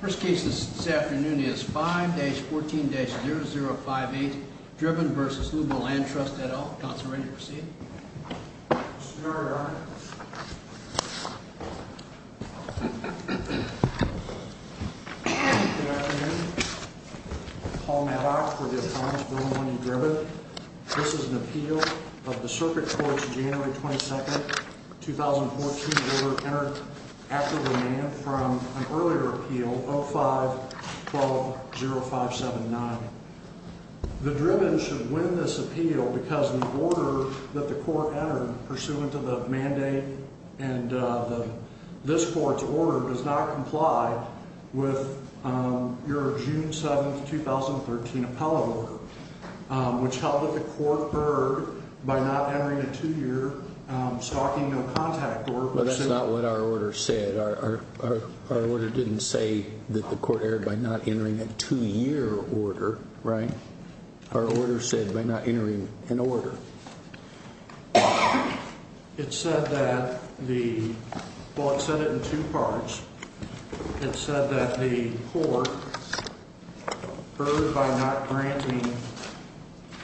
First case this afternoon is 5-14-0058, Dribben v. Lurbo Land Trust, et al. Counselor, are you ready to proceed? Yes, sir, Your Honor. Good afternoon. Paul Mehta for the Appellant's Bill of Money, Dribben. This is an appeal of the circuit court's January 22, 2014 order entered after demand from an earlier appeal, 05-12-0579. The Dribben should win this appeal because the order that the court entered pursuant to the mandate and this court's order does not comply with your June 7, 2013 appellate order, which held that the court erred by not entering a two-year stalking no contact order. But that's not what our order said. Our order didn't say that the court erred by not entering a two-year order, right? Our order said by not entering an order. It said that the – well, it said it in two parts. It said that the court erred by not granting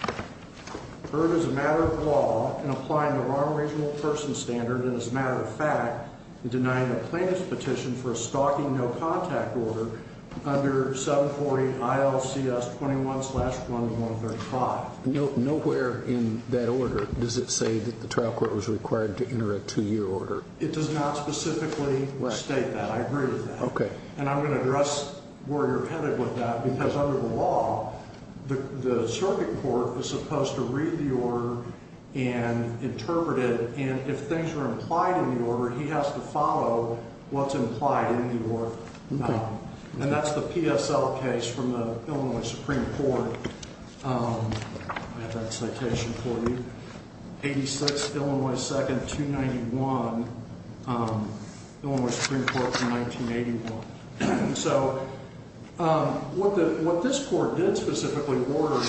– erred as a matter of law in applying the wrong regional person standard and, as a matter of fact, denying a plaintiff's petition for a stalking no contact order under 740 ILCS 21-1135. Nowhere in that order does it say that the trial court was required to enter a two-year order. It does not specifically state that. I agree with that. Okay. And I'm going to address where you're headed with that because under the law, the circuit court is supposed to read the order and interpret it. And if things are implied in the order, he has to follow what's implied in the order. And that's the PSL case from the Illinois Supreme Court. I have that citation for you. 86 Illinois 2nd 291, Illinois Supreme Court from 1981. So what this court did specifically order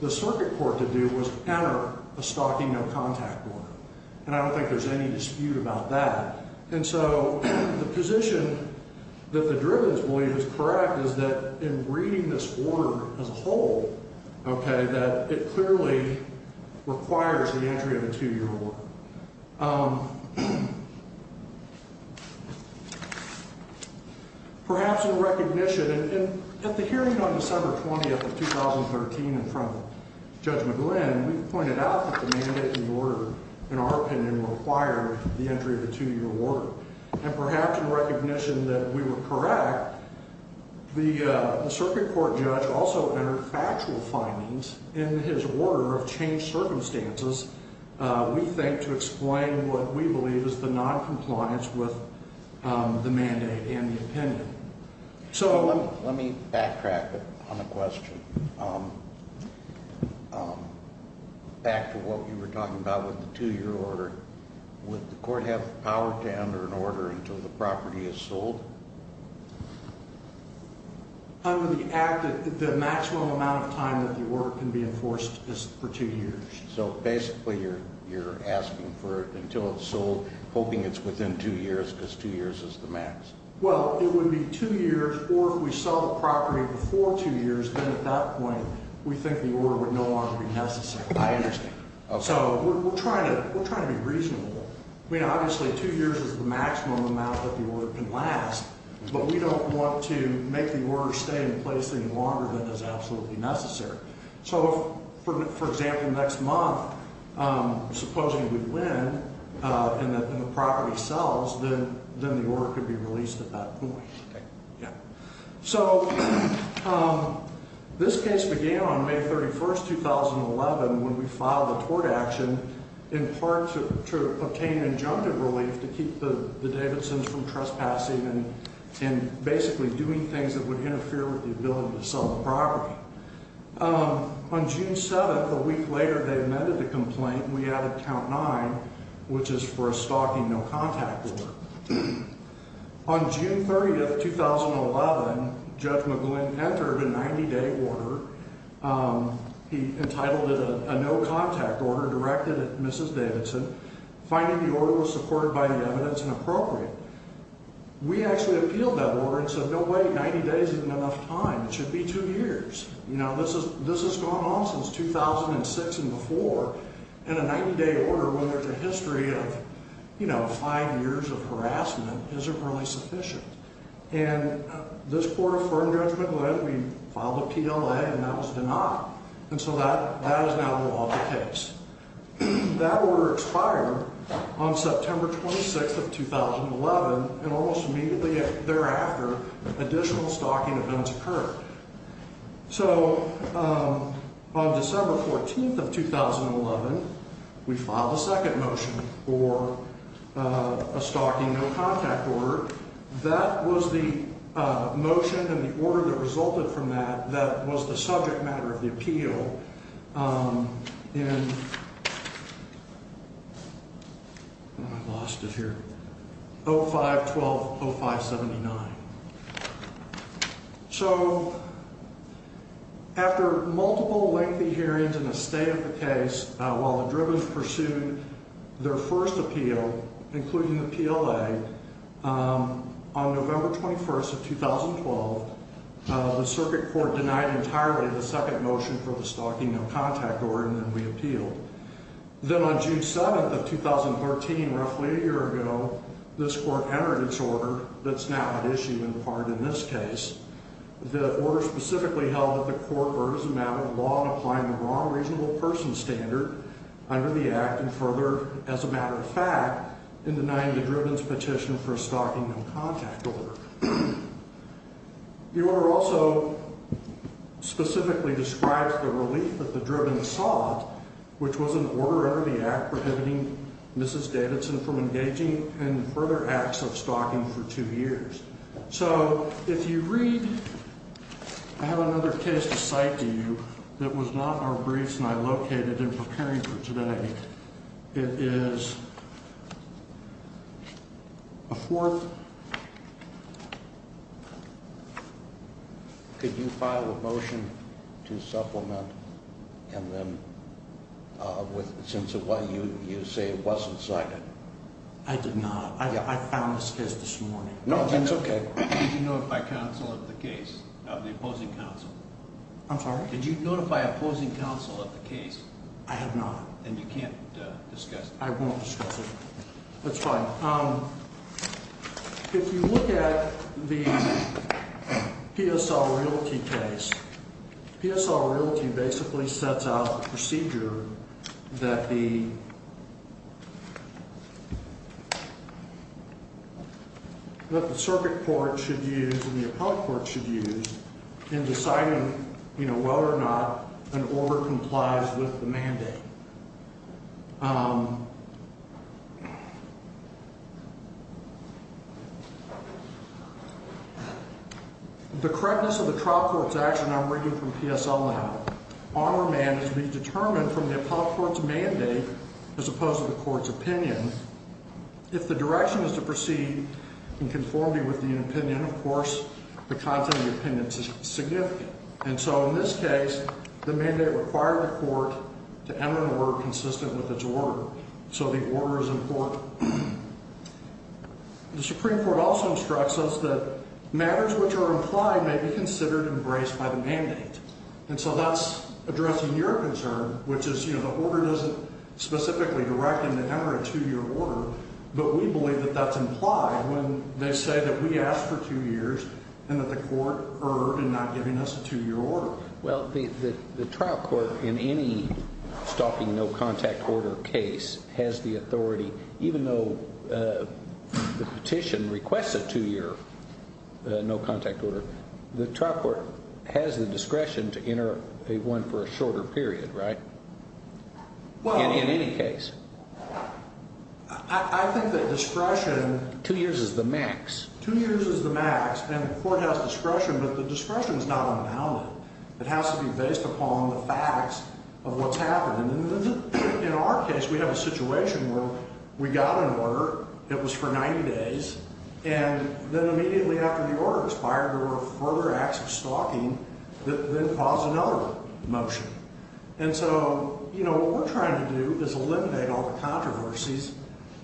the circuit court to do was enter a stalking no contact order. And I don't think there's any dispute about that. And so the position that the derivatives believe is correct is that in reading this order as a whole, okay, that it clearly requires the entry of a two-year order. Perhaps in recognition, and at the hearing on December 20th of 2013 in front of Judge McGlynn, we pointed out that the mandate and the order, in our opinion, required the entry of a two-year order. And perhaps in recognition that we were correct, the circuit court judge also entered factual findings in his order of changed circumstances, we think, to explain what we believe is the noncompliance with the mandate and the opinion. So let me backtrack on a question. Back to what you were talking about with the two-year order. Would the court have the power to enter an order until the property is sold? Under the act, the maximum amount of time that the order can be enforced is for two years. So basically you're asking for it until it's sold, hoping it's within two years because two years is the max. Well, it would be two years, or if we sell the property before two years, then at that point we think the order would no longer be necessary. I understand. So we're trying to be reasonable. I mean, obviously two years is the maximum amount that the order can last, but we don't want to make the order stay in place any longer than is absolutely necessary. So for example, next month, supposing we win and the property sells, then the order could be released at that point. Okay. Yeah. So this case began on May 31, 2011, when we filed a tort action in part to obtain injunctive relief to keep the Davidsons from trespassing and basically doing things that would interfere with the ability to sell the property. On June 7, a week later, they amended the complaint, and we added Count 9, which is for a stalking no-contact order. On June 30, 2011, Judge McGlynn entered a 90-day order. He entitled it a no-contact order directed at Mrs. Davidson, finding the order was supported by the evidence and appropriate. We actually appealed that order and said, no way, 90 days isn't enough time. It should be two years. You know, this has gone on since 2006 and before, and a 90-day order with a history of, you know, five years of harassment isn't really sufficient. And this court affirmed Judge McGlynn. We filed a PLA, and that was denied. And so that is now the law of the case. That order expired on September 26th of 2011, and almost immediately thereafter, additional stalking events occurred. So on December 14th of 2011, we filed a second motion for a stalking no-contact order. That was the motion and the order that resulted from that that was the subject matter of the appeal in 05-12-0579. So after multiple lengthy hearings and a state of the case, while the Drivens pursued their first appeal, including the PLA, on November 21st of 2012, the circuit court denied entirely the second motion for the stalking no-contact order, and then we appealed. Then on June 7th of 2013, roughly a year ago, this court entered its order that's now at issue in part in this case. The order specifically held that the court verdes a matter of law in applying the wrong reasonable person standard under the Act and further, as a matter of fact, in denying the Drivens' petition for a stalking no-contact order. The order also specifically describes the relief that the Drivens sought, which was an order under the Act prohibiting Mrs. Davidson from engaging in further acts of stalking for two years. So if you read, I have another case to cite to you that was not in our briefs and I located in preparing for today. It is a fourth. Could you file a motion to supplement and then, since you say it wasn't cited? I did not. I found this case this morning. No, that's okay. Did you notify counsel of the case, of the opposing counsel? I'm sorry? Did you notify opposing counsel of the case? I have not. And you can't discuss it? I won't discuss it. That's fine. If you look at the PSL Realty case, PSL Realty basically sets out the procedure that the circuit court should use and the appellate court should use in deciding whether or not an order complies with the mandate. The correctness of the trial court's action I'm reading from PSL now, on or man, is being determined from the appellate court's mandate as opposed to the court's opinion. If the direction is to proceed in conformity with the opinion, of course, the content of the opinion is significant. And so in this case, the mandate required the court to enter an order consistent with its order. So the order is important. The Supreme Court also instructs us that matters which are implied may be considered embraced by the mandate. And so that's addressing your concern, which is, you know, the order doesn't specifically direct and enter a two-year order. But we believe that that's implied when they say that we asked for two years and that the court erred in not giving us a two-year order. Well, the trial court in any stalking no-contact order case has the authority, even though the petition requests a two-year no-contact order, the trial court has the discretion to enter one for a shorter period, right? In any case. I think that discretion... Two years is the max. Two years is the max, and the court has discretion, but the discretion is not unbounded. It has to be based upon the facts of what's happened. And in our case, we have a situation where we got an order. It was for 90 days. And then immediately after the order expired, there were further acts of stalking that then caused another motion. And so, you know, what we're trying to do is eliminate all the controversies.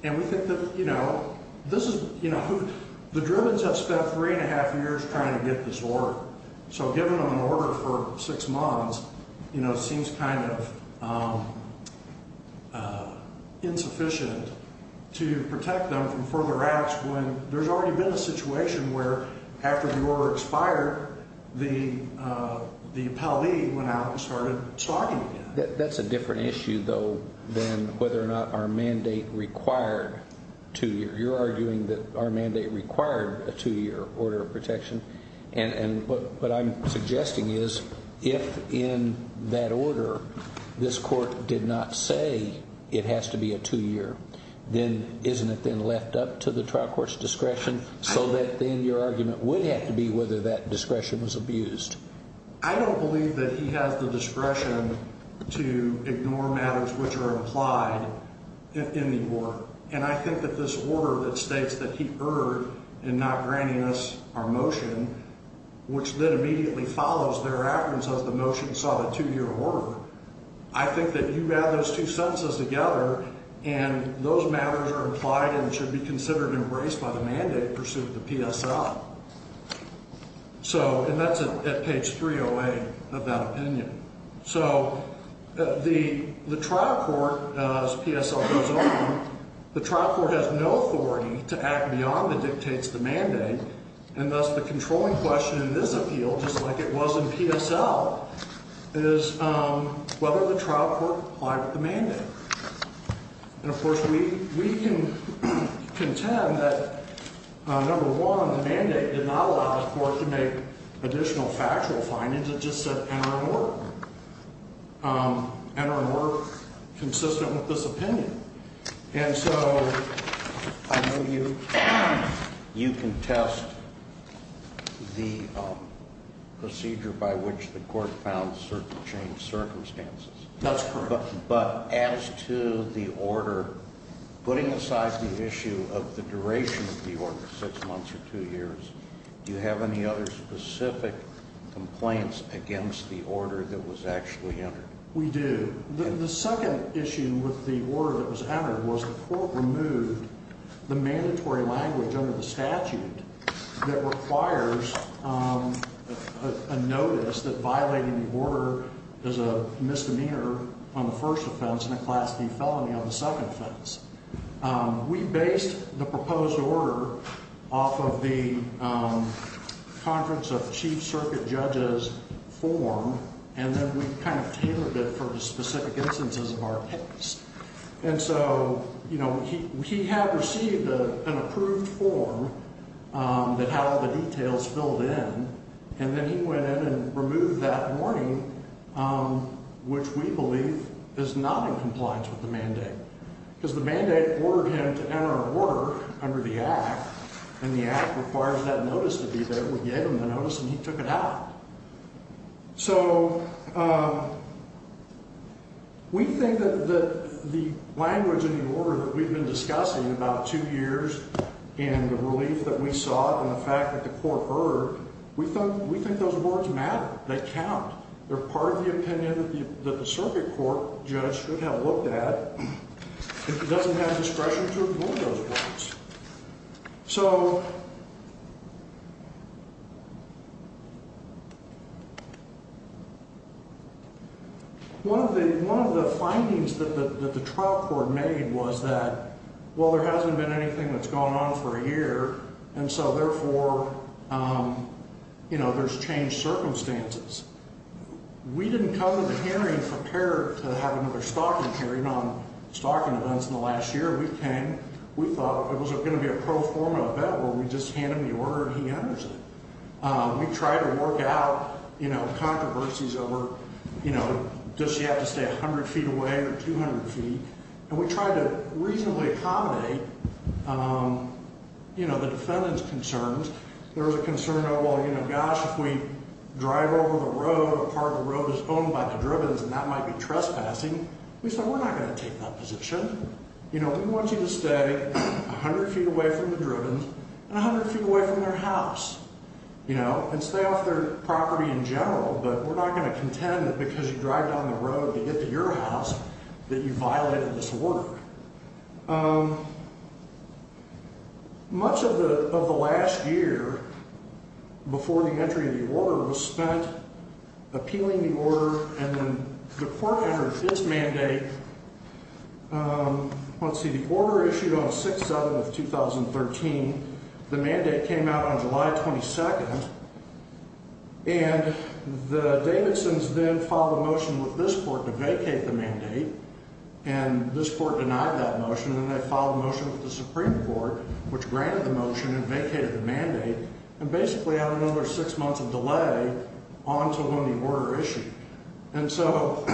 And we think that, you know, this is, you know, the Drivens have spent three and a half years trying to get this order. So giving them an order for six months, you know, seems kind of insufficient to protect them from further acts when there's already been a situation where after the order expired, the appellee went out and started stalking again. That's a different issue, though, than whether or not our mandate required two years. You're arguing that our mandate required a two-year order of protection. And what I'm suggesting is if in that order this court did not say it has to be a two-year, then isn't it then left up to the trial court's discretion so that then your argument would have to be whether that discretion was abused? I don't believe that he has the discretion to ignore matters which are implied in the order. And I think that this order that states that he erred in not granting us our motion, which then immediately follows thereafter and says the motion sought a two-year order. I think that you add those two sentences together and those matters are implied and should be considered embraced by the mandate pursuant to PSL. And that's at page 308 of that opinion. So the trial court, as PSL goes on, the trial court has no authority to act beyond the dictates of the mandate, and thus the controlling question in this appeal, just like it was in PSL, is whether the trial court complied with the mandate. And, of course, we can contend that, number one, the mandate did not allow the court to make additional factual findings. It just said enter and work. Enter and work consistent with this opinion. And so I know you contest the procedure by which the court found certain changed circumstances. That's correct. But as to the order, putting aside the issue of the duration of the order, six months or two years, do you have any other specific complaints against the order that was actually entered? We do. The second issue with the order that was entered was the court removed the mandatory language under the statute that requires a notice that violating the order is a misdemeanor on the first offense and a Class D felony on the second offense. We based the proposed order off of the Conference of Chief Circuit Judges form, and then we kind of tailored it for the specific instances of our case. And so, you know, he had received an approved form that had all the details filled in, and then he went in and removed that warning, which we believe is not in compliance with the mandate. Because the mandate ordered him to enter and work under the Act, and the Act requires that notice to be there. We gave him the notice, and he took it out. So we think that the language in the order that we've been discussing about two years and the relief that we saw and the fact that the court heard, we think those words matter. They count. They're part of the opinion that the circuit court judge should have looked at if he doesn't have discretion to avoid those words. So one of the findings that the trial court made was that, well, there hasn't been anything that's gone on for a year, and so therefore, you know, there's changed circumstances. We didn't come to the hearing prepared to have another stocking hearing on stocking events in the last year. We came, we thought it was going to be a pro forma event where we just handed him the order and he enters it. We tried to work out, you know, controversies over, you know, does she have to stay 100 feet away or 200 feet? And we tried to reasonably accommodate, you know, the defendant's concerns. There was a concern of, well, you know, gosh, if we drive over the road, part of the road is owned by the drivens, and that might be trespassing. We said we're not going to take that position. You know, we want you to stay 100 feet away from the drivens and 100 feet away from their house, you know, and stay off their property in general, but we're not going to contend that because you drive down the road to get to your house that you violated this order. Much of the last year before the entry of the order was spent appealing the order, and then the court entered this mandate. Let's see, the order issued on 6-7 of 2013. The mandate came out on July 22nd, and the Davidsons then filed a motion with this court to vacate the mandate, and this court denied that motion. Then they filed a motion with the Supreme Court, which granted the motion and vacated the mandate and basically had another six months of delay on to when the order issued. And so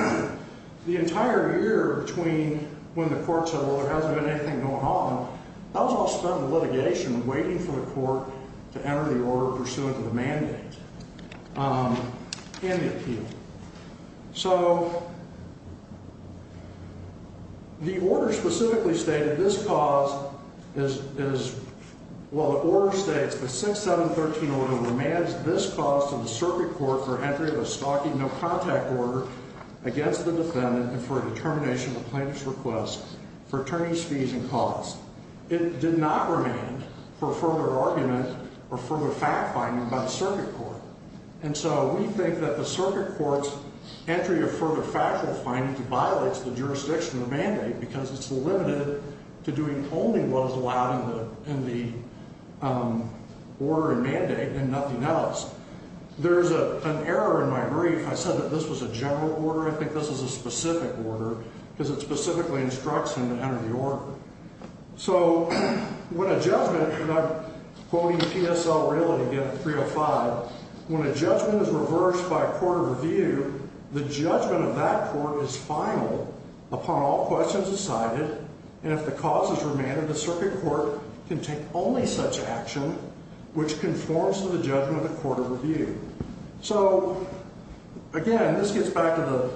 the entire year between when the court said, well, there hasn't been anything going on, that was all spent in litigation waiting for the court to enter the order pursuant to the mandate and the appeal. So the order specifically stated this cause is, well, the order states, the 6-7-13 order remains this cause to the circuit court for entry of a stalking no-contact order against the defendant and for a determination of a plaintiff's request for attorney's fees and costs. It did not remain for further argument or further fact-finding by the circuit court. And so we think that the circuit court's entry of further fact-finding violates the jurisdiction of the mandate because it's limited to doing only what is allowed in the order and mandate and nothing else. There's an error in my brief. I said that this was a general order. I think this is a specific order because it specifically instructs him to enter the order. So when a judgment, and I'm quoting PSL really again, 305, when a judgment is reversed by a court of review, the judgment of that court is final upon all questions decided, and if the cause is remanded, the circuit court can take only such action, which conforms to the judgment of the court of review. So, again, this gets back to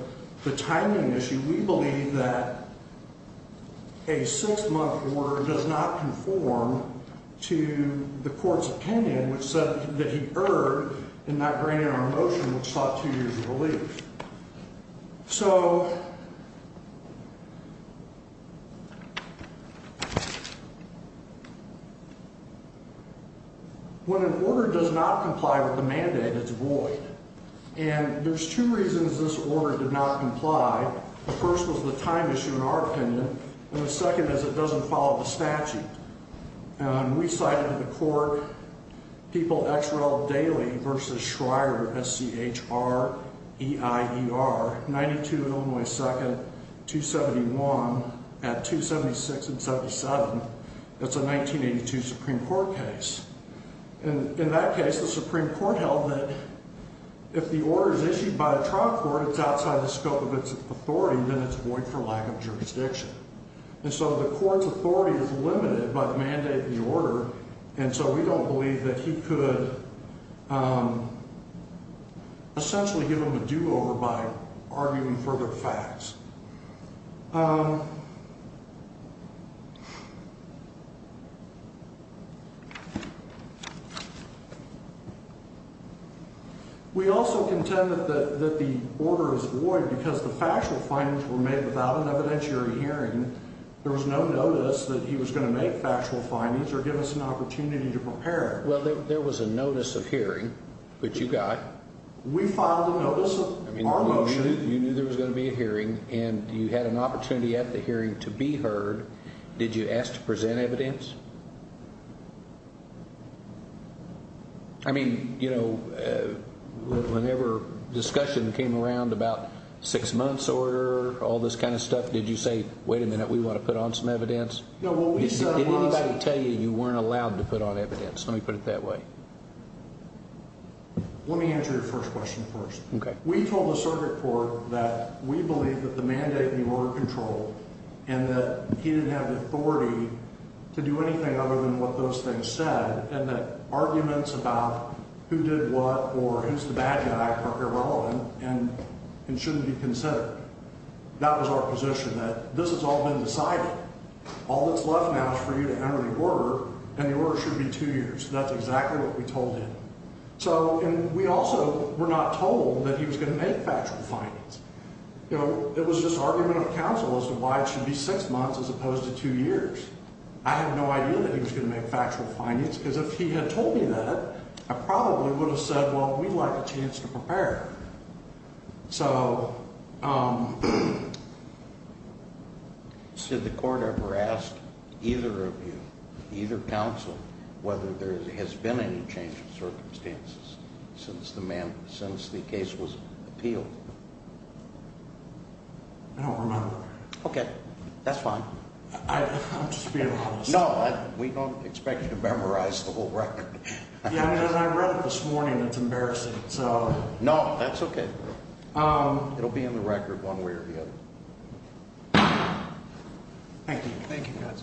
the timing issue. We believe that a six-month order does not conform to the court's opinion, which said that he erred in not granting our motion, which sought two years of relief. So when an order does not comply with the mandate, it's void. And there's two reasons this order did not comply. The first was the time issue in our opinion, and the second is it doesn't follow the statute. We cited in the court, people ex rel daily versus Schreier, S-C-H-R-E-I-E-R, 92 in Illinois 2nd, 271 at 276 and 77. That's a 1982 Supreme Court case. In that case, the Supreme Court held that if the order is issued by a trial court, it's outside the scope of its authority, then it's void for lack of jurisdiction. And so the court's authority is limited by the mandate of the order, and so we don't believe that he could essentially give them a do-over by arguing for their facts. We also contend that the order is void because the factual findings were made without an evidentiary hearing. There was no notice that he was going to make factual findings or give us an opportunity to prepare. Well, there was a notice of hearing, which you got. We filed a notice of our motion. You knew there was going to be a hearing, and you had an opportunity at the hearing to be heard. Did you ask to present evidence? I mean, you know, whenever discussion came around about six-months order, all this kind of stuff, did you say, wait a minute, we want to put on some evidence? No, what we said was— Did anybody tell you you weren't allowed to put on evidence? Let me put it that way. Let me answer your first question first. Okay. We told the circuit court that we believe that the mandate and the order are controlled and that he didn't have the authority to do anything other than what those things said and that arguments about who did what or who's the bad guy are irrelevant and shouldn't be considered. That was our position, that this has all been decided. All that's left now is for you to enter the order, and the order should be two years. That's exactly what we told him. And we also were not told that he was going to make factual findings. You know, it was just argument of counsel as to why it should be six months as opposed to two years. I had no idea that he was going to make factual findings because if he had told me that, I probably would have said, well, we'd like a chance to prepare. So— Did the court ever ask either of you, either counsel, whether there has been any change in circumstances since the case was appealed? I don't remember. Okay. That's fine. I'm just being honest. No, we don't expect you to memorize the whole record. Yeah, I mean, as I read it this morning, it's embarrassing, so— No, that's okay. It'll be in the record one way or the other. Thank you. Thank you, guys.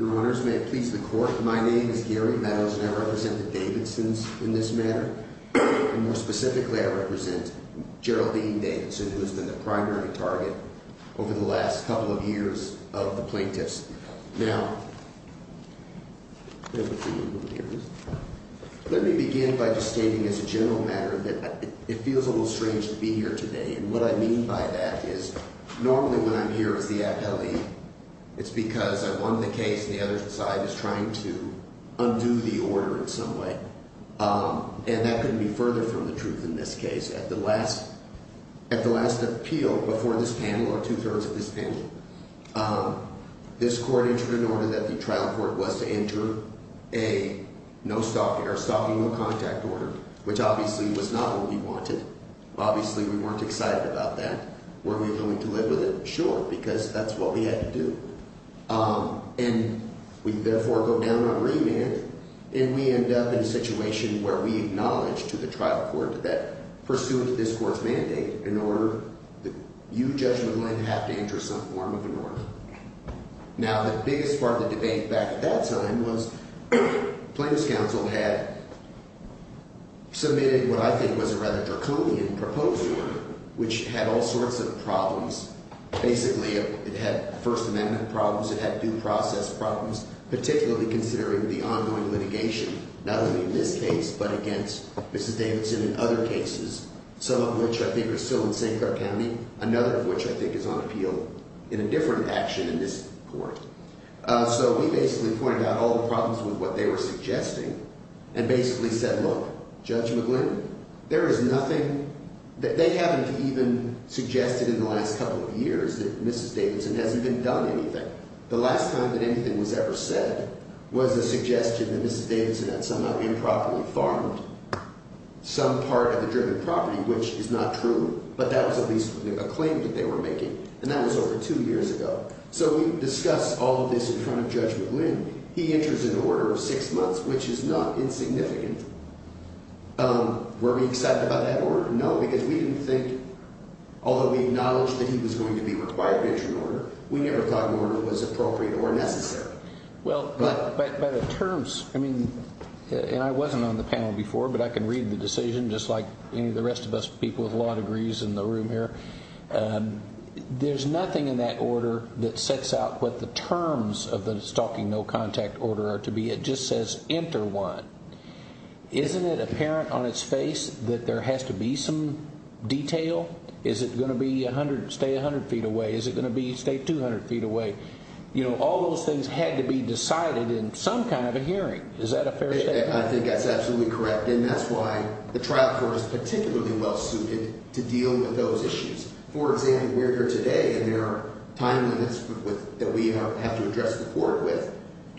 Your Honors, may it please the court, my name is Gary Meadows, and I represent the Davidsons in this matter. More specifically, I represent Geraldine Davidson, who has been the primary target over the last couple of years of the plaintiffs. Now, let me begin by just stating as a general matter that it feels a little strange to be here today. And what I mean by that is normally when I'm here as the appellee, it's because I've won the case, and the other side is trying to undo the order in some way. And that couldn't be further from the truth in this case. At the last appeal before this panel, or two-thirds of this panel, this court entered an order that the trial court was to enter a no-stop, or stopping-no-contact order, which obviously was not what we wanted. Obviously, we weren't excited about that. Were we going to live with it? Sure, because that's what we had to do. And we, therefore, go down on remand, and we end up in a situation where we acknowledge to the trial court that pursuant to this court's mandate, in order, you, Judge McGlynn, have to enter some form of an order. Now, the biggest part of the debate back at that time was the plaintiff's counsel had submitted what I think was a rather draconian proposal, which had all sorts of problems. Basically, it had First Amendment problems. It had due process problems, particularly considering the ongoing litigation, not only in this case, but against Mrs. Davidson and other cases, some of which I think are still in St. Clark County, another of which I think is on appeal. In a different action in this court. So, we basically pointed out all the problems with what they were suggesting, and basically said, look, Judge McGlynn, there is nothing. They haven't even suggested in the last couple of years that Mrs. Davidson hasn't been done anything. The last time that anything was ever said was a suggestion that Mrs. Davidson had somehow improperly farmed some part of the driven property, which is not true, but that was at least a claim that they were making. And that was over two years ago. So, we discussed all of this in front of Judge McGlynn. He enters an order of six months, which is not insignificant. Were we excited about that order? No, because we didn't think, although we acknowledged that he was going to be required to enter an order, we never thought an order was appropriate or necessary. Well, by the terms, I mean, and I wasn't on the panel before, but I can read the decision, just like any of the rest of us people with law degrees in the room here. There's nothing in that order that sets out what the terms of the stalking no contact order are to be. It just says enter one. Isn't it apparent on its face that there has to be some detail? Is it going to be stay 100 feet away? Is it going to be stay 200 feet away? You know, all those things had to be decided in some kind of a hearing. Is that a fair statement? I think that's absolutely correct, and that's why the trial court is particularly well suited to deal with those issues. For example, we're here today, and there are time limits that we have to address the court with.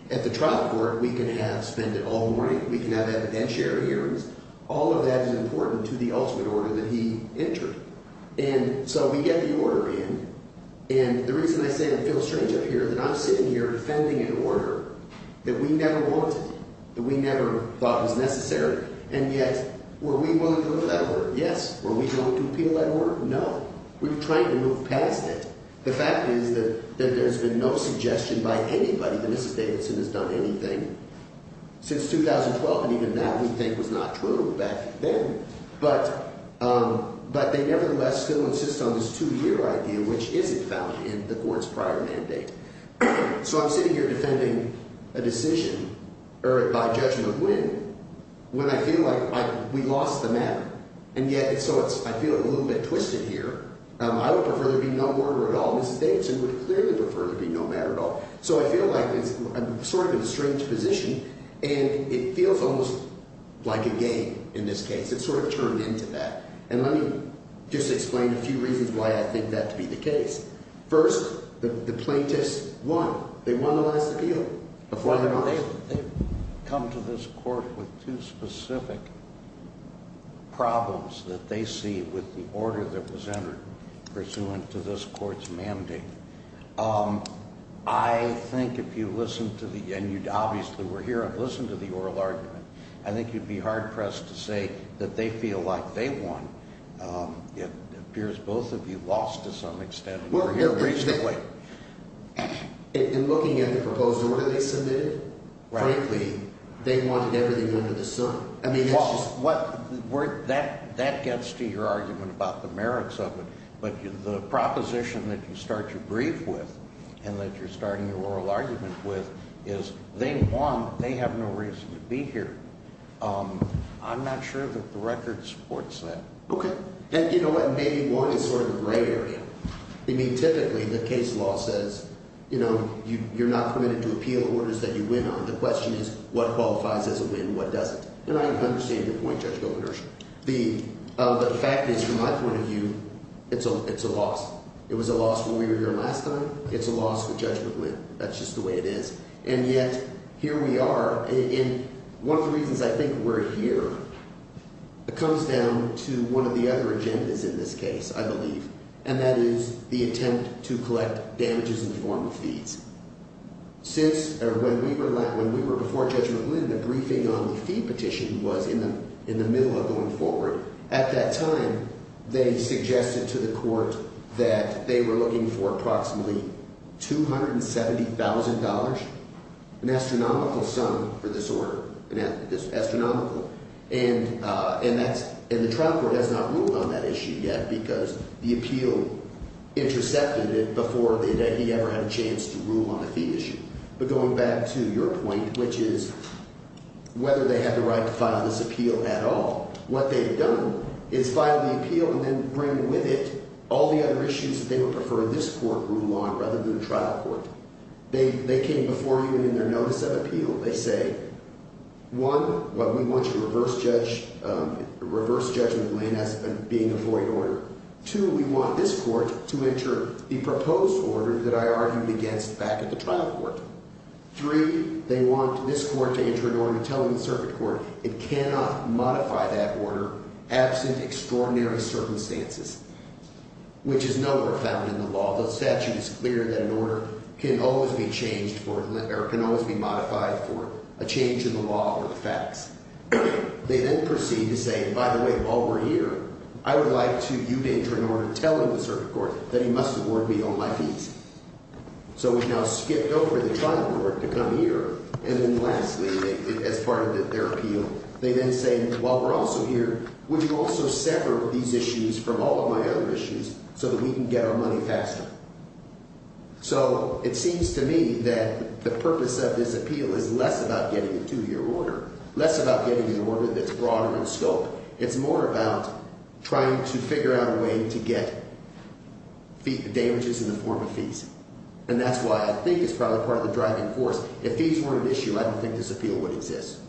At the trial court, we can have spend it all morning. We can have evidentiary hearings. All of that is important to the ultimate order that he entered. And so we get the order in, and the reason I say I feel strange up here is that I'm sitting here defending an order that we never wanted, that we never thought was necessary, and yet were we willing to appeal that order? Yes. Were we willing to appeal that order? No. We're trying to move past it. The fact is that there's been no suggestion by anybody that Mrs. Davidson has done anything since 2012, and even that we think was not true back then. But they nevertheless still insist on this two-year idea, which isn't found in the court's prior mandate. So I'm sitting here defending a decision by Judge McGuinn when I feel like we lost the matter. And yet so I feel a little bit twisted here. I would prefer there be no order at all. Mrs. Davidson would clearly prefer there be no matter at all. So I feel like I'm sort of in a strange position, and it feels almost like a game in this case. It's sort of turned into that. And let me just explain a few reasons why I think that to be the case. First, the plaintiffs won. They won the last appeal. They've come to this court with two specific problems that they see with the order that was entered pursuant to this court's mandate. I think if you listen to the—and you obviously were here and listened to the oral argument— I think you'd be hard-pressed to say that they feel like they won. It appears both of you lost to some extent. In looking at the proposed order they submitted, frankly, they wanted everything under the sun. That gets to your argument about the merits of it. But the proposition that you start your brief with and that you're starting your oral argument with is they won. They have no reason to be here. I'm not sure that the record supports that. Okay. And you know what? Maybe one is sort of the gray area. I mean, typically the case law says you're not permitted to appeal orders that you win on. The question is what qualifies as a win, what doesn't. And I understand your point, Judge Goldenberg. The fact is, from my point of view, it's a loss. It was a loss when we were here last time. It's a loss if a judgment win. That's just the way it is. And yet here we are. And one of the reasons I think we're here comes down to one of the other agendas in this case, I believe. And that is the attempt to collect damages in the form of fees. Since when we were before Judgment Win, the briefing on the fee petition was in the middle of going forward. At that time, they suggested to the court that they were looking for approximately $270,000, an astronomical sum for this order. Astronomical. And the trial court has not ruled on that issue yet because the appeal intercepted it before he ever had a chance to rule on the fee issue. But going back to your point, which is whether they have the right to file this appeal at all, what they've done is filed the appeal and then bring with it all the other issues that they would prefer this court rule on rather than the trial court. They came before you and in their notice of appeal, they say, one, we want you to reverse judgment win as being a void order. Two, we want this court to enter the proposed order that I argued against back at the trial court. Three, they want this court to enter an order telling the circuit court it cannot modify that order absent extraordinary circumstances, which is nowhere found in the law. The statute is clear that an order can always be changed or can always be modified for a change in the law or the facts. They then proceed to say, by the way, while we're here, I would like you to enter an order telling the circuit court that he must award me on my fees. So we've now skipped over the trial court to come here. And then lastly, as part of their appeal, they then say, while we're also here, would you also sever these issues from all of my other issues so that we can get our money faster? So it seems to me that the purpose of this appeal is less about getting a two-year order, less about getting an order that's broader in scope. It's more about trying to figure out a way to get damages in the form of fees. And that's why I think it's probably part of the driving force. If fees weren't an issue, I don't think this appeal would exist.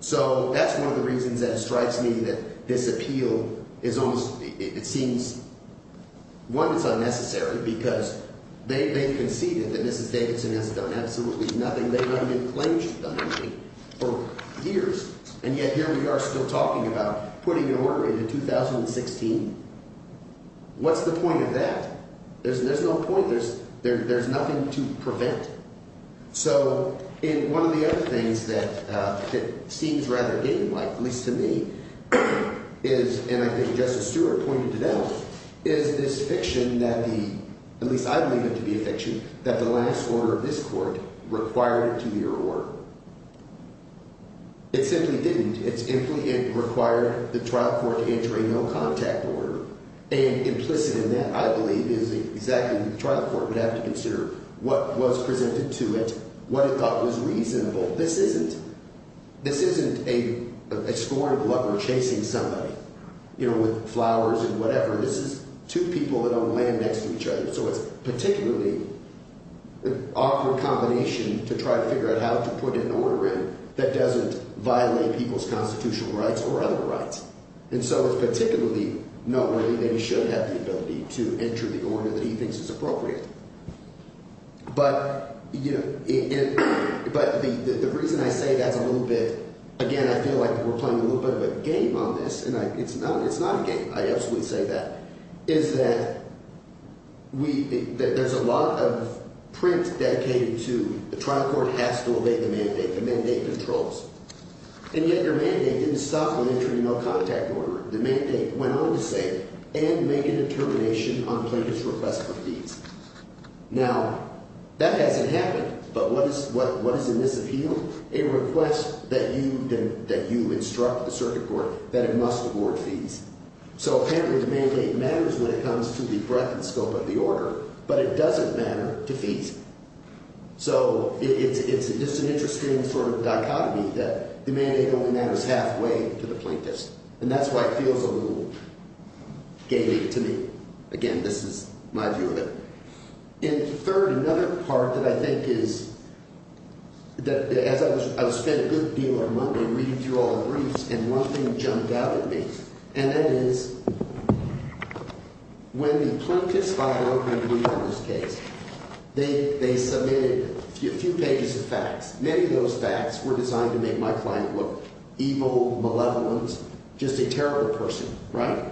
So that's one of the reasons that it strikes me that this appeal is almost – it seems, one, it's unnecessary because they've conceded that Mrs. Davidson has done absolutely nothing. They haven't even claimed she's done anything for years. And yet here we are still talking about putting an order into 2016. What's the point of that? There's no point. There's nothing to prevent. So – and one of the other things that it seems rather game-like, at least to me, is – and I think Justice Stewart pointed it out – is this fiction that the – at least I believe it to be a fiction – that the last order of this court required a two-year order. It simply didn't. It simply required the trial court to enter a no-contact order. And implicit in that, I believe, is exactly what the trial court would have to consider what was presented to it, what it thought was reasonable. This isn't – this isn't a story of a lover chasing somebody, you know, with flowers and whatever. This is two people that don't land next to each other. So it's particularly an awkward combination to try to figure out how to put an order in that doesn't violate people's constitutional rights or other rights. And so it's particularly noteworthy that he should have the ability to enter the order that he thinks is appropriate. But the reason I say that's a little bit – again, I feel like we're playing a little bit of a game on this, and it's not a game. I absolutely say that, is that we – there's a lot of print dedicated to the trial court has to obey the mandate, the mandate controls. And yet your mandate didn't stop with entering a no-contact order. The mandate went on to say, and make a determination on plaintiff's request for fees. Now, that hasn't happened, but what is in this appeal? A request that you instruct the circuit court that it must award fees. So apparently the mandate matters when it comes to the breadth and scope of the order, but it doesn't matter to fees. So it's just an interesting sort of dichotomy that the mandate only matters halfway to the plaintiff's. And that's why it feels a little gated to me. Again, this is my view of it. And third, another part that I think is – that as I was spending a good deal of money reading through all the briefs and one thing jumped out at me. And that is when the plaintiff's file – I'm going to read out this case. They submitted a few pages of facts. Many of those facts were designed to make my client look evil, malevolent, just a terrible person, right?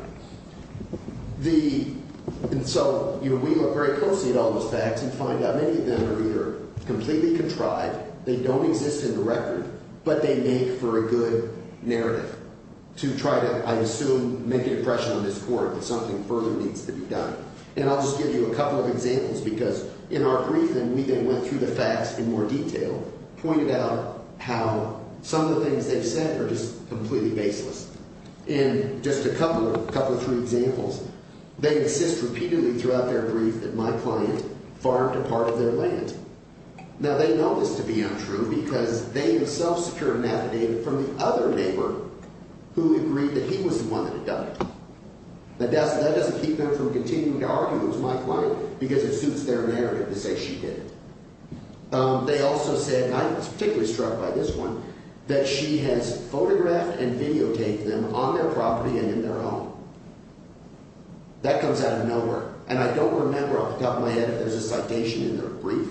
The – and so we look very closely at all those facts and find out many of them are either completely contrived, they don't exist in the record, but they make for a good narrative. To try to, I assume, make an impression on this court that something further needs to be done. And I'll just give you a couple of examples because in our briefing, we then went through the facts in more detail, pointed out how some of the things they've said are just completely baseless. In just a couple of – a couple of three examples, they insist repeatedly throughout their brief that my client farmed a part of their land. Now, they know this to be untrue because they have self-secured math data from the other neighbor who agreed that he was the one that had done it. But that doesn't keep them from continuing to argue it was my client because it suits their narrative to say she did it. They also said – and I was particularly struck by this one – that she has photographed and videotaped them on their property and in their home. That comes out of nowhere, and I don't remember off the top of my head if there's a citation in their brief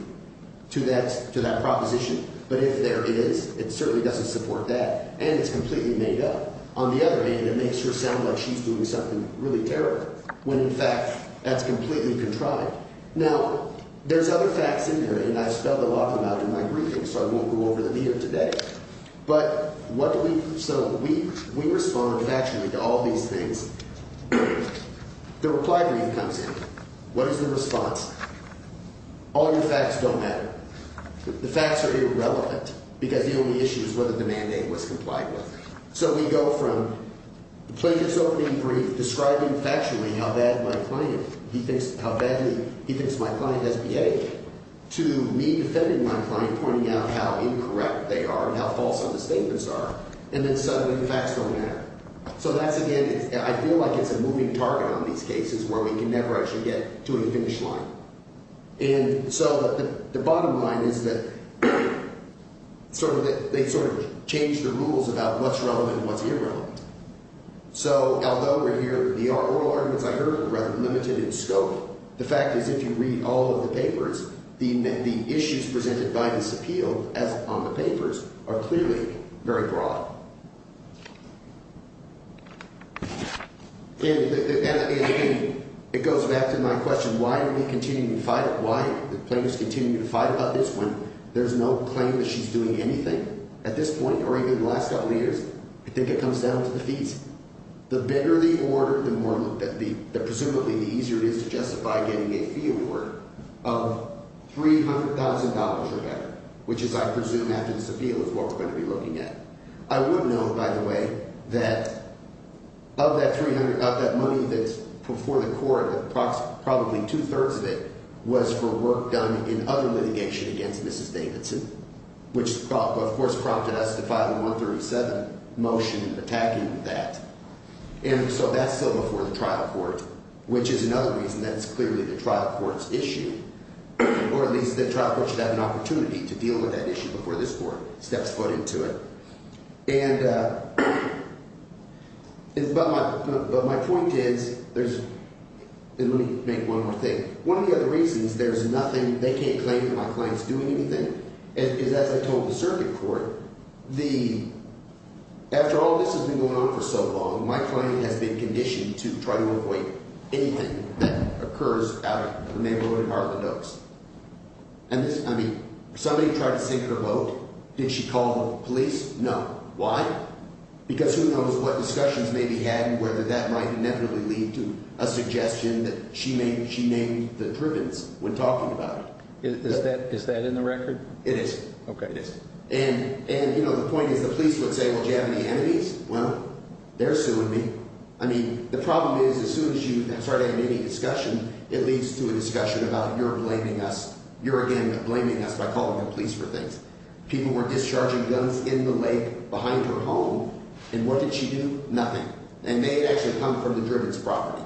to that proposition. But if there is, it certainly doesn't support that, and it's completely made up. On the other hand, it makes her sound like she's doing something really terrible when, in fact, that's completely contrived. Now, there's other facts in there, and I've spelled a lot of them out in my briefing, so I won't go over them here today. But what do we – so we respond factually to all these things. The reply brief comes in. What is the response? All your facts don't matter. The facts are irrelevant because the only issue is whether the mandate was complied with. So we go from the plaintiff's opening brief describing factually how bad my client – he thinks – how badly he thinks my client has behaved to me defending my client, pointing out how incorrect they are and how false some of the statements are, and then suddenly the facts don't matter. So that's, again – I feel like it's a moving target on these cases where we can never actually get to a finish line. And so the bottom line is that sort of – they sort of change the rules about what's relevant and what's irrelevant. So although we're here – the oral arguments I heard are rather limited in scope, the fact is if you read all of the papers, the issues presented by this appeal as on the papers are clearly very broad. And it goes back to my question. Why are we continuing to fight it? Why do plaintiffs continue to fight about this when there's no claim that she's doing anything at this point or even the last couple of years? I think it comes down to the fees. The bigger the order, the more – presumably the easier it is to justify getting a fee award of $300,000 or better, which is I presume after this appeal is what we're going to be looking at. I would note, by the way, that of that 300 – of that money that's before the court, probably two-thirds of it was for work done in other litigation against Mrs. Davidson, which of course prompted us to file a 137 motion attacking that. And so that's still before the trial court, which is another reason that it's clearly the trial court's issue, or at least the trial court should have an opportunity to deal with that issue before this court steps foot into it. And – but my point is there's – and let me make one more thing. One of the other reasons there's nothing – they can't claim that my client's doing anything is, as I told the circuit court, the – after all this has been going on for so long, my client has been conditioned to try to avoid anything that occurs out of the neighborhood at Heartland Oaks. And this – I mean, somebody tried to sink her boat. Did she call the police? No. Why? Because who knows what discussions may be had and whether that might inevitably lead to a suggestion that she may – she named the drivens when talking about it. Is that in the record? It is. Okay, it is. And the point is the police would say, well, do you have any enemies? Well, they're suing me. I mean, the problem is as soon as you start having any discussion, it leads to a discussion about you're blaming us. You're again blaming us by calling the police for things. People were discharging guns in the lake behind her home, and what did she do? Nothing. And they had actually come from the drivens' property.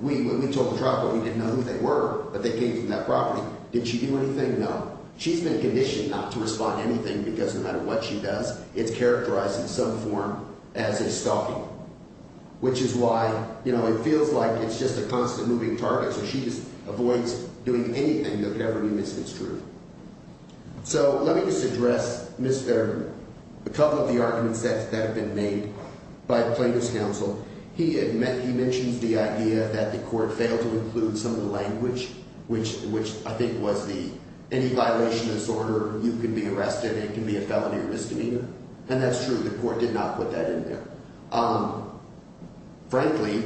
We – when we took the trial, we didn't know who they were, but they came from that property. Did she do anything? No. She's been conditioned not to respond to anything because no matter what she does, it's characterized in some form as a stalking, which is why it feels like it's just a constant moving target, so she just avoids doing anything that could ever be misconstrued. So let me just address Mr. – a couple of the arguments that have been made by plaintiff's counsel. He mentions the idea that the court failed to include some of the language, which I think was the – any violation of this order, you can be arrested and it can be a felony or misdemeanor. And that's true. The court did not put that in there. Frankly,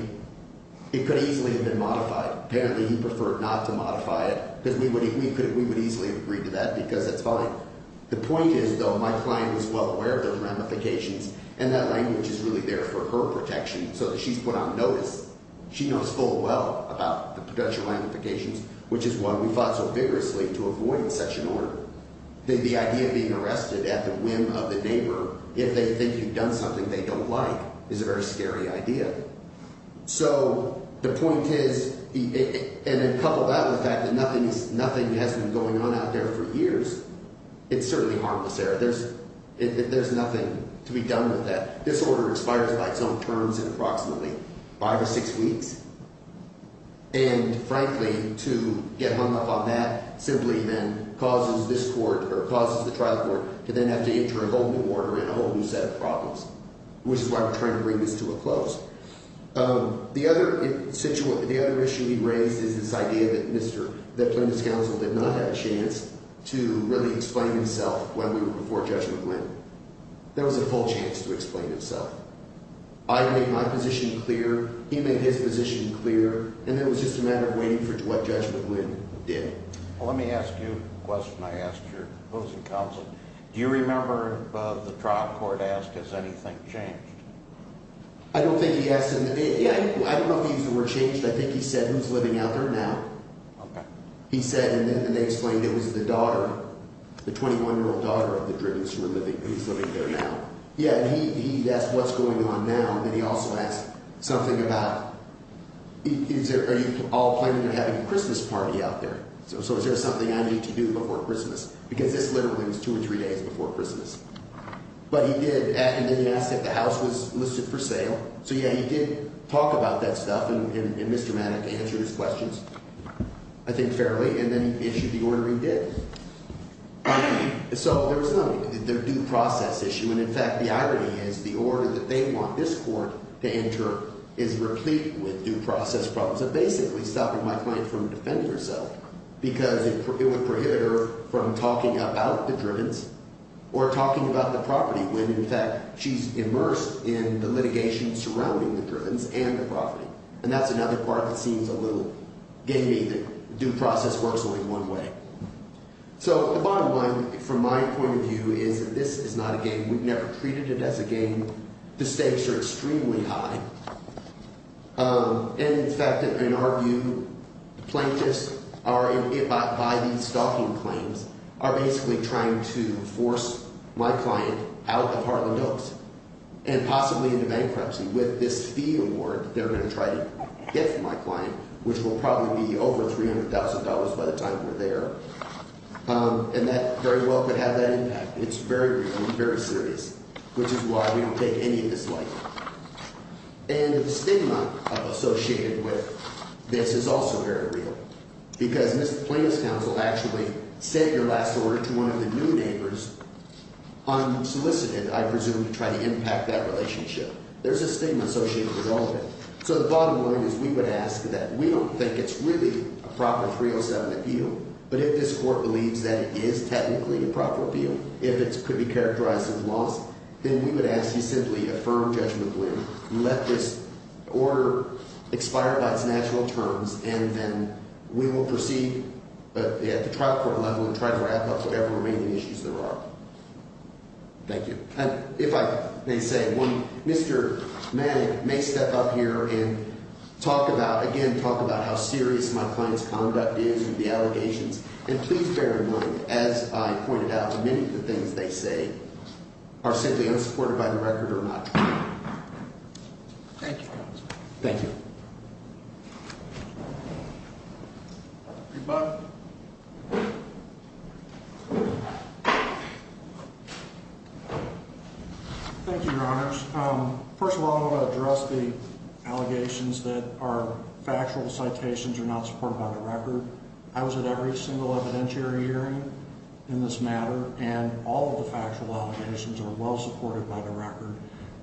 it could easily have been modified. Apparently he preferred not to modify it because we would – we could – we would easily have agreed to that because that's fine. The point is, though, my client was well aware of those ramifications, and that language is really there for her protection so that she's put on notice. She knows full well about the potential ramifications, which is why we fought so vigorously to avoid such an order. The idea of being arrested at the whim of the neighbor if they think you've done something they don't like is a very scary idea. So the point is – and then couple that with the fact that nothing has been going on out there for years, it's certainly harmless there. There's nothing to be done with that. This order expires by its own terms in approximately five or six weeks. And, frankly, to get hung up on that simply then causes this court – or causes the trial court to then have to enter a whole new order and a whole new set of problems, which is why we're trying to bring this to a close. The other issue we've raised is this idea that Mr. – that Plaintiff's counsel did not have a chance to really explain himself when we were before Judge McGuinn. There was a full chance to explain himself. I made my position clear. He made his position clear. And it was just a matter of waiting for what Judge McGuinn did. Let me ask you a question I asked your opposing counsel. Do you remember the trial court asked, has anything changed? I don't think he asked – yeah, I don't know if he used the word changed. I think he said who's living out there now. Okay. He said – and then they explained it was the daughter, the 21-year-old daughter of the druggist who's living there now. Yeah, and he asked what's going on now, and then he also asked something about is there – are you all planning on having a Christmas party out there? So is there something I need to do before Christmas? Because this literally was two or three days before Christmas. But he did – and then he asked if the house was listed for sale. So, yeah, he did talk about that stuff, and Mr. Maddox answered his questions, I think, fairly. And then he issued the order he did. So there was no due process issue. And, in fact, the irony is the order that they want this court to enter is replete with due process problems. So basically stopping my client from defending herself because it would prohibit her from talking about the drivens or talking about the property when, in fact, she's immersed in the litigation surrounding the drivens and the property. And that's another part that seems a little – gave me the due process works only one way. So the bottom line from my point of view is that this is not a game. We've never treated it as a game. The stakes are extremely high. And, in fact, in our view, plaintiffs are – by these stalking claims are basically trying to force my client out of Harland Oaks and possibly into bankruptcy with this fee award that they're going to try to get from my client, which will probably be over $300,000 by the time we're there. And that very well could have that impact. It's very, very serious, which is why we don't take any of this lightly. And the stigma associated with this is also very real because Mr. Plaintiff's counsel actually sent your last order to one of the new neighbors unsolicited, I presume, to try to impact that relationship. There's a stigma associated with all of it. So the bottom line is we would ask that we don't think it's really a proper 307 appeal, but if this court believes that it is technically a proper appeal, if it could be characterized as loss, then we would ask you simply affirm judgmentally, let this order expire by its natural terms, and then we will proceed at the trial court level and try to wrap up whatever remaining issues there are. Thank you. And if I may say, Mr. Manning may step up here and talk about, again, talk about how serious my client's conduct is and the allegations. And please bear in mind, as I pointed out, many of the things they say are simply unsupported by the record or not. Thank you, counsel. Thank you. Your butt. Thank you, Your Honors. First of all, I want to address the allegations that are factual citations or not supported by the record. I was at every single evidentiary hearing in this matter, and all of the factual allegations are well supported by the record.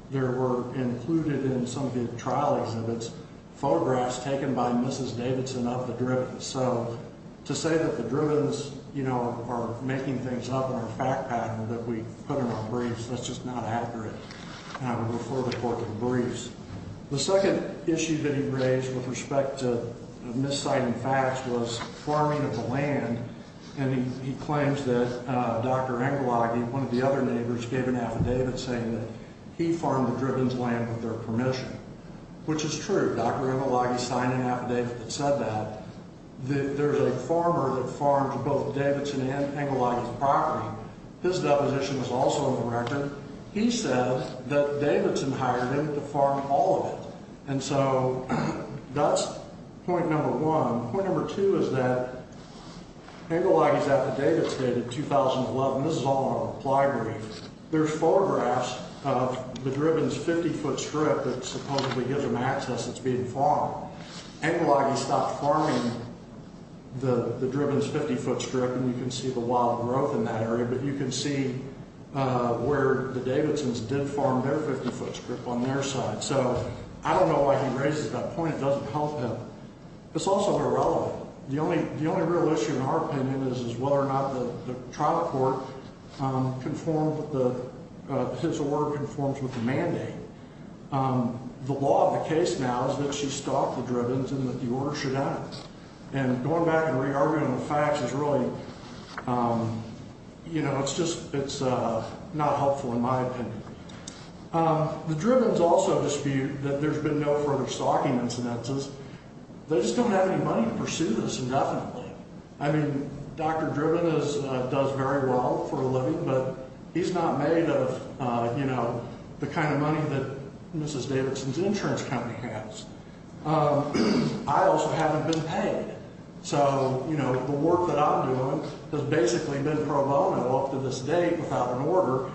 There were included in some of the trial exhibits photographs taken by Mrs. Davidson of the drivens. So to say that the drivens, you know, are making things up in our fact pattern that we put in our briefs, that's just not accurate, and I would refer the court to the briefs. The second issue that he raised with respect to misciting facts was farming of the land. And he claims that Dr. Engelagy, one of the other neighbors, gave an affidavit saying that he farmed the drivens' land with their permission, which is true. Dr. Engelagy signed an affidavit that said that. There's a farmer that farms both Davidson and Engelagy's property. His deposition was also in the record. And he said that Davidson hired him to farm all of it. And so that's point number one. Point number two is that Engelagy's affidavit dated 2011. This is all in the library. There's photographs of the driven's 50-foot strip that supposedly gives them access that's being farmed. Engelagy stopped farming the driven's 50-foot strip, and you can see the wild growth in that area. But you can see where the Davidsons did farm their 50-foot strip on their side. So I don't know why he raises that point. It doesn't help him. It's also irrelevant. The only real issue in our opinion is whether or not the trial court conformed, his order conforms with the mandate. The law of the case now is that she stopped the driven's and that the order should end. And going back and re-arguing the facts is really, you know, it's just not helpful in my opinion. The driven's also dispute that there's been no further stocking incidences. They just don't have any money to pursue this indefinitely. I mean, Dr. Driven does very well for a living, but he's not made of, you know, the kind of money that Mrs. Davidson's insurance company has. I also haven't been paid. So, you know, the work that I'm doing has basically been pro bono up to this date without an order.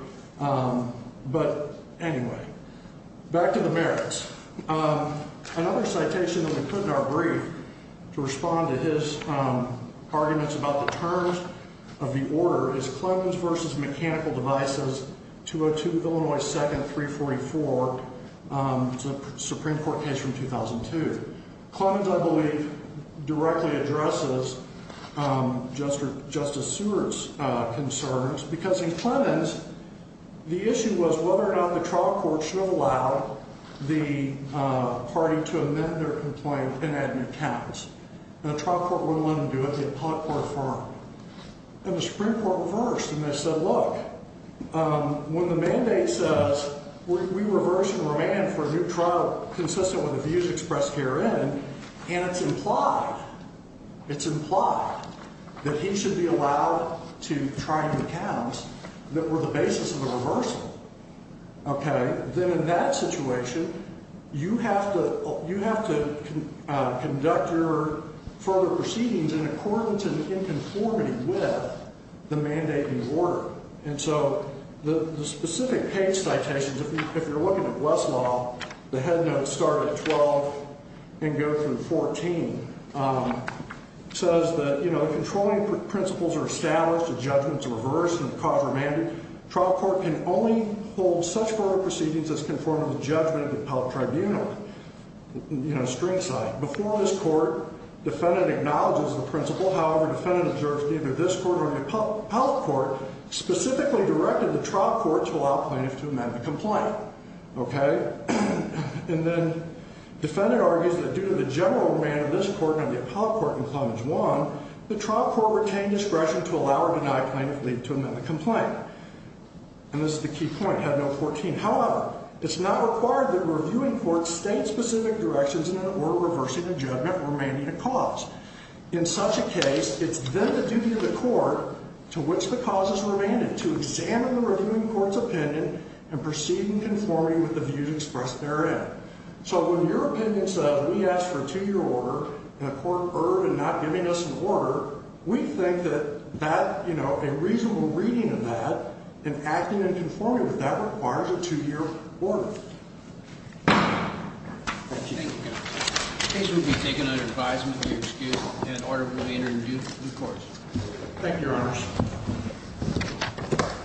But anyway, back to the merits. Another citation that we put in our brief to respond to his arguments about the terms of the order is Clemmons v. Mechanical Devices, 202 Illinois 2nd, 344. It's a Supreme Court case from 2002. Clemmons, I believe, directly addresses Justice Seward's concerns because in Clemmons, the issue was whether or not the trial court should have allowed the party to amend their complaint and add new counts. And the trial court wouldn't let them do it. The appellate court affirmed. And the Supreme Court reversed, and they said, look, when the mandate says we reverse and remand for a new trial consistent with the views expressed herein, and it's implied, it's implied that he should be allowed to try new counts that were the basis of the reversal. Okay. Then in that situation, you have to conduct your further proceedings in accordance and in conformity with the mandate and order. And so the specific case citations, if you're looking at Westlaw, the head notes start at 12 and go through 14. It says that, you know, the controlling principles are established, the judgments are reversed, and the costs are mandated. The trial court can only hold such further proceedings as conform to the judgment of the appellate tribunal. You know, string side. Before this court, defendant acknowledges the principle. However, defendant observes neither this court nor the appellate court specifically directed the trial court to allow plaintiff to amend the complaint. Okay. And then defendant argues that due to the general remand of this court and the appellate court in clemency one, the trial court retained discretion to allow or deny plaintiff leave to amend the complaint. And this is the key point, head note 14. However, it's not required that reviewing courts state specific directions in an order reversing a judgment remanding a cause. In such a case, it's then the duty of the court to which the cause is remanded, to examine the reviewing court's opinion and proceed in conforming with the views expressed therein. So when your opinion says we ask for a two-year order and the court erred in not giving us an order, we think that that, you know, a reasonable reading of that and acting in conformity with that requires a two-year order. Thank you. Thank you, counsel. The case will be taken under advisement, be excused, and an order will be entered into due course. Thank you, Your Honors.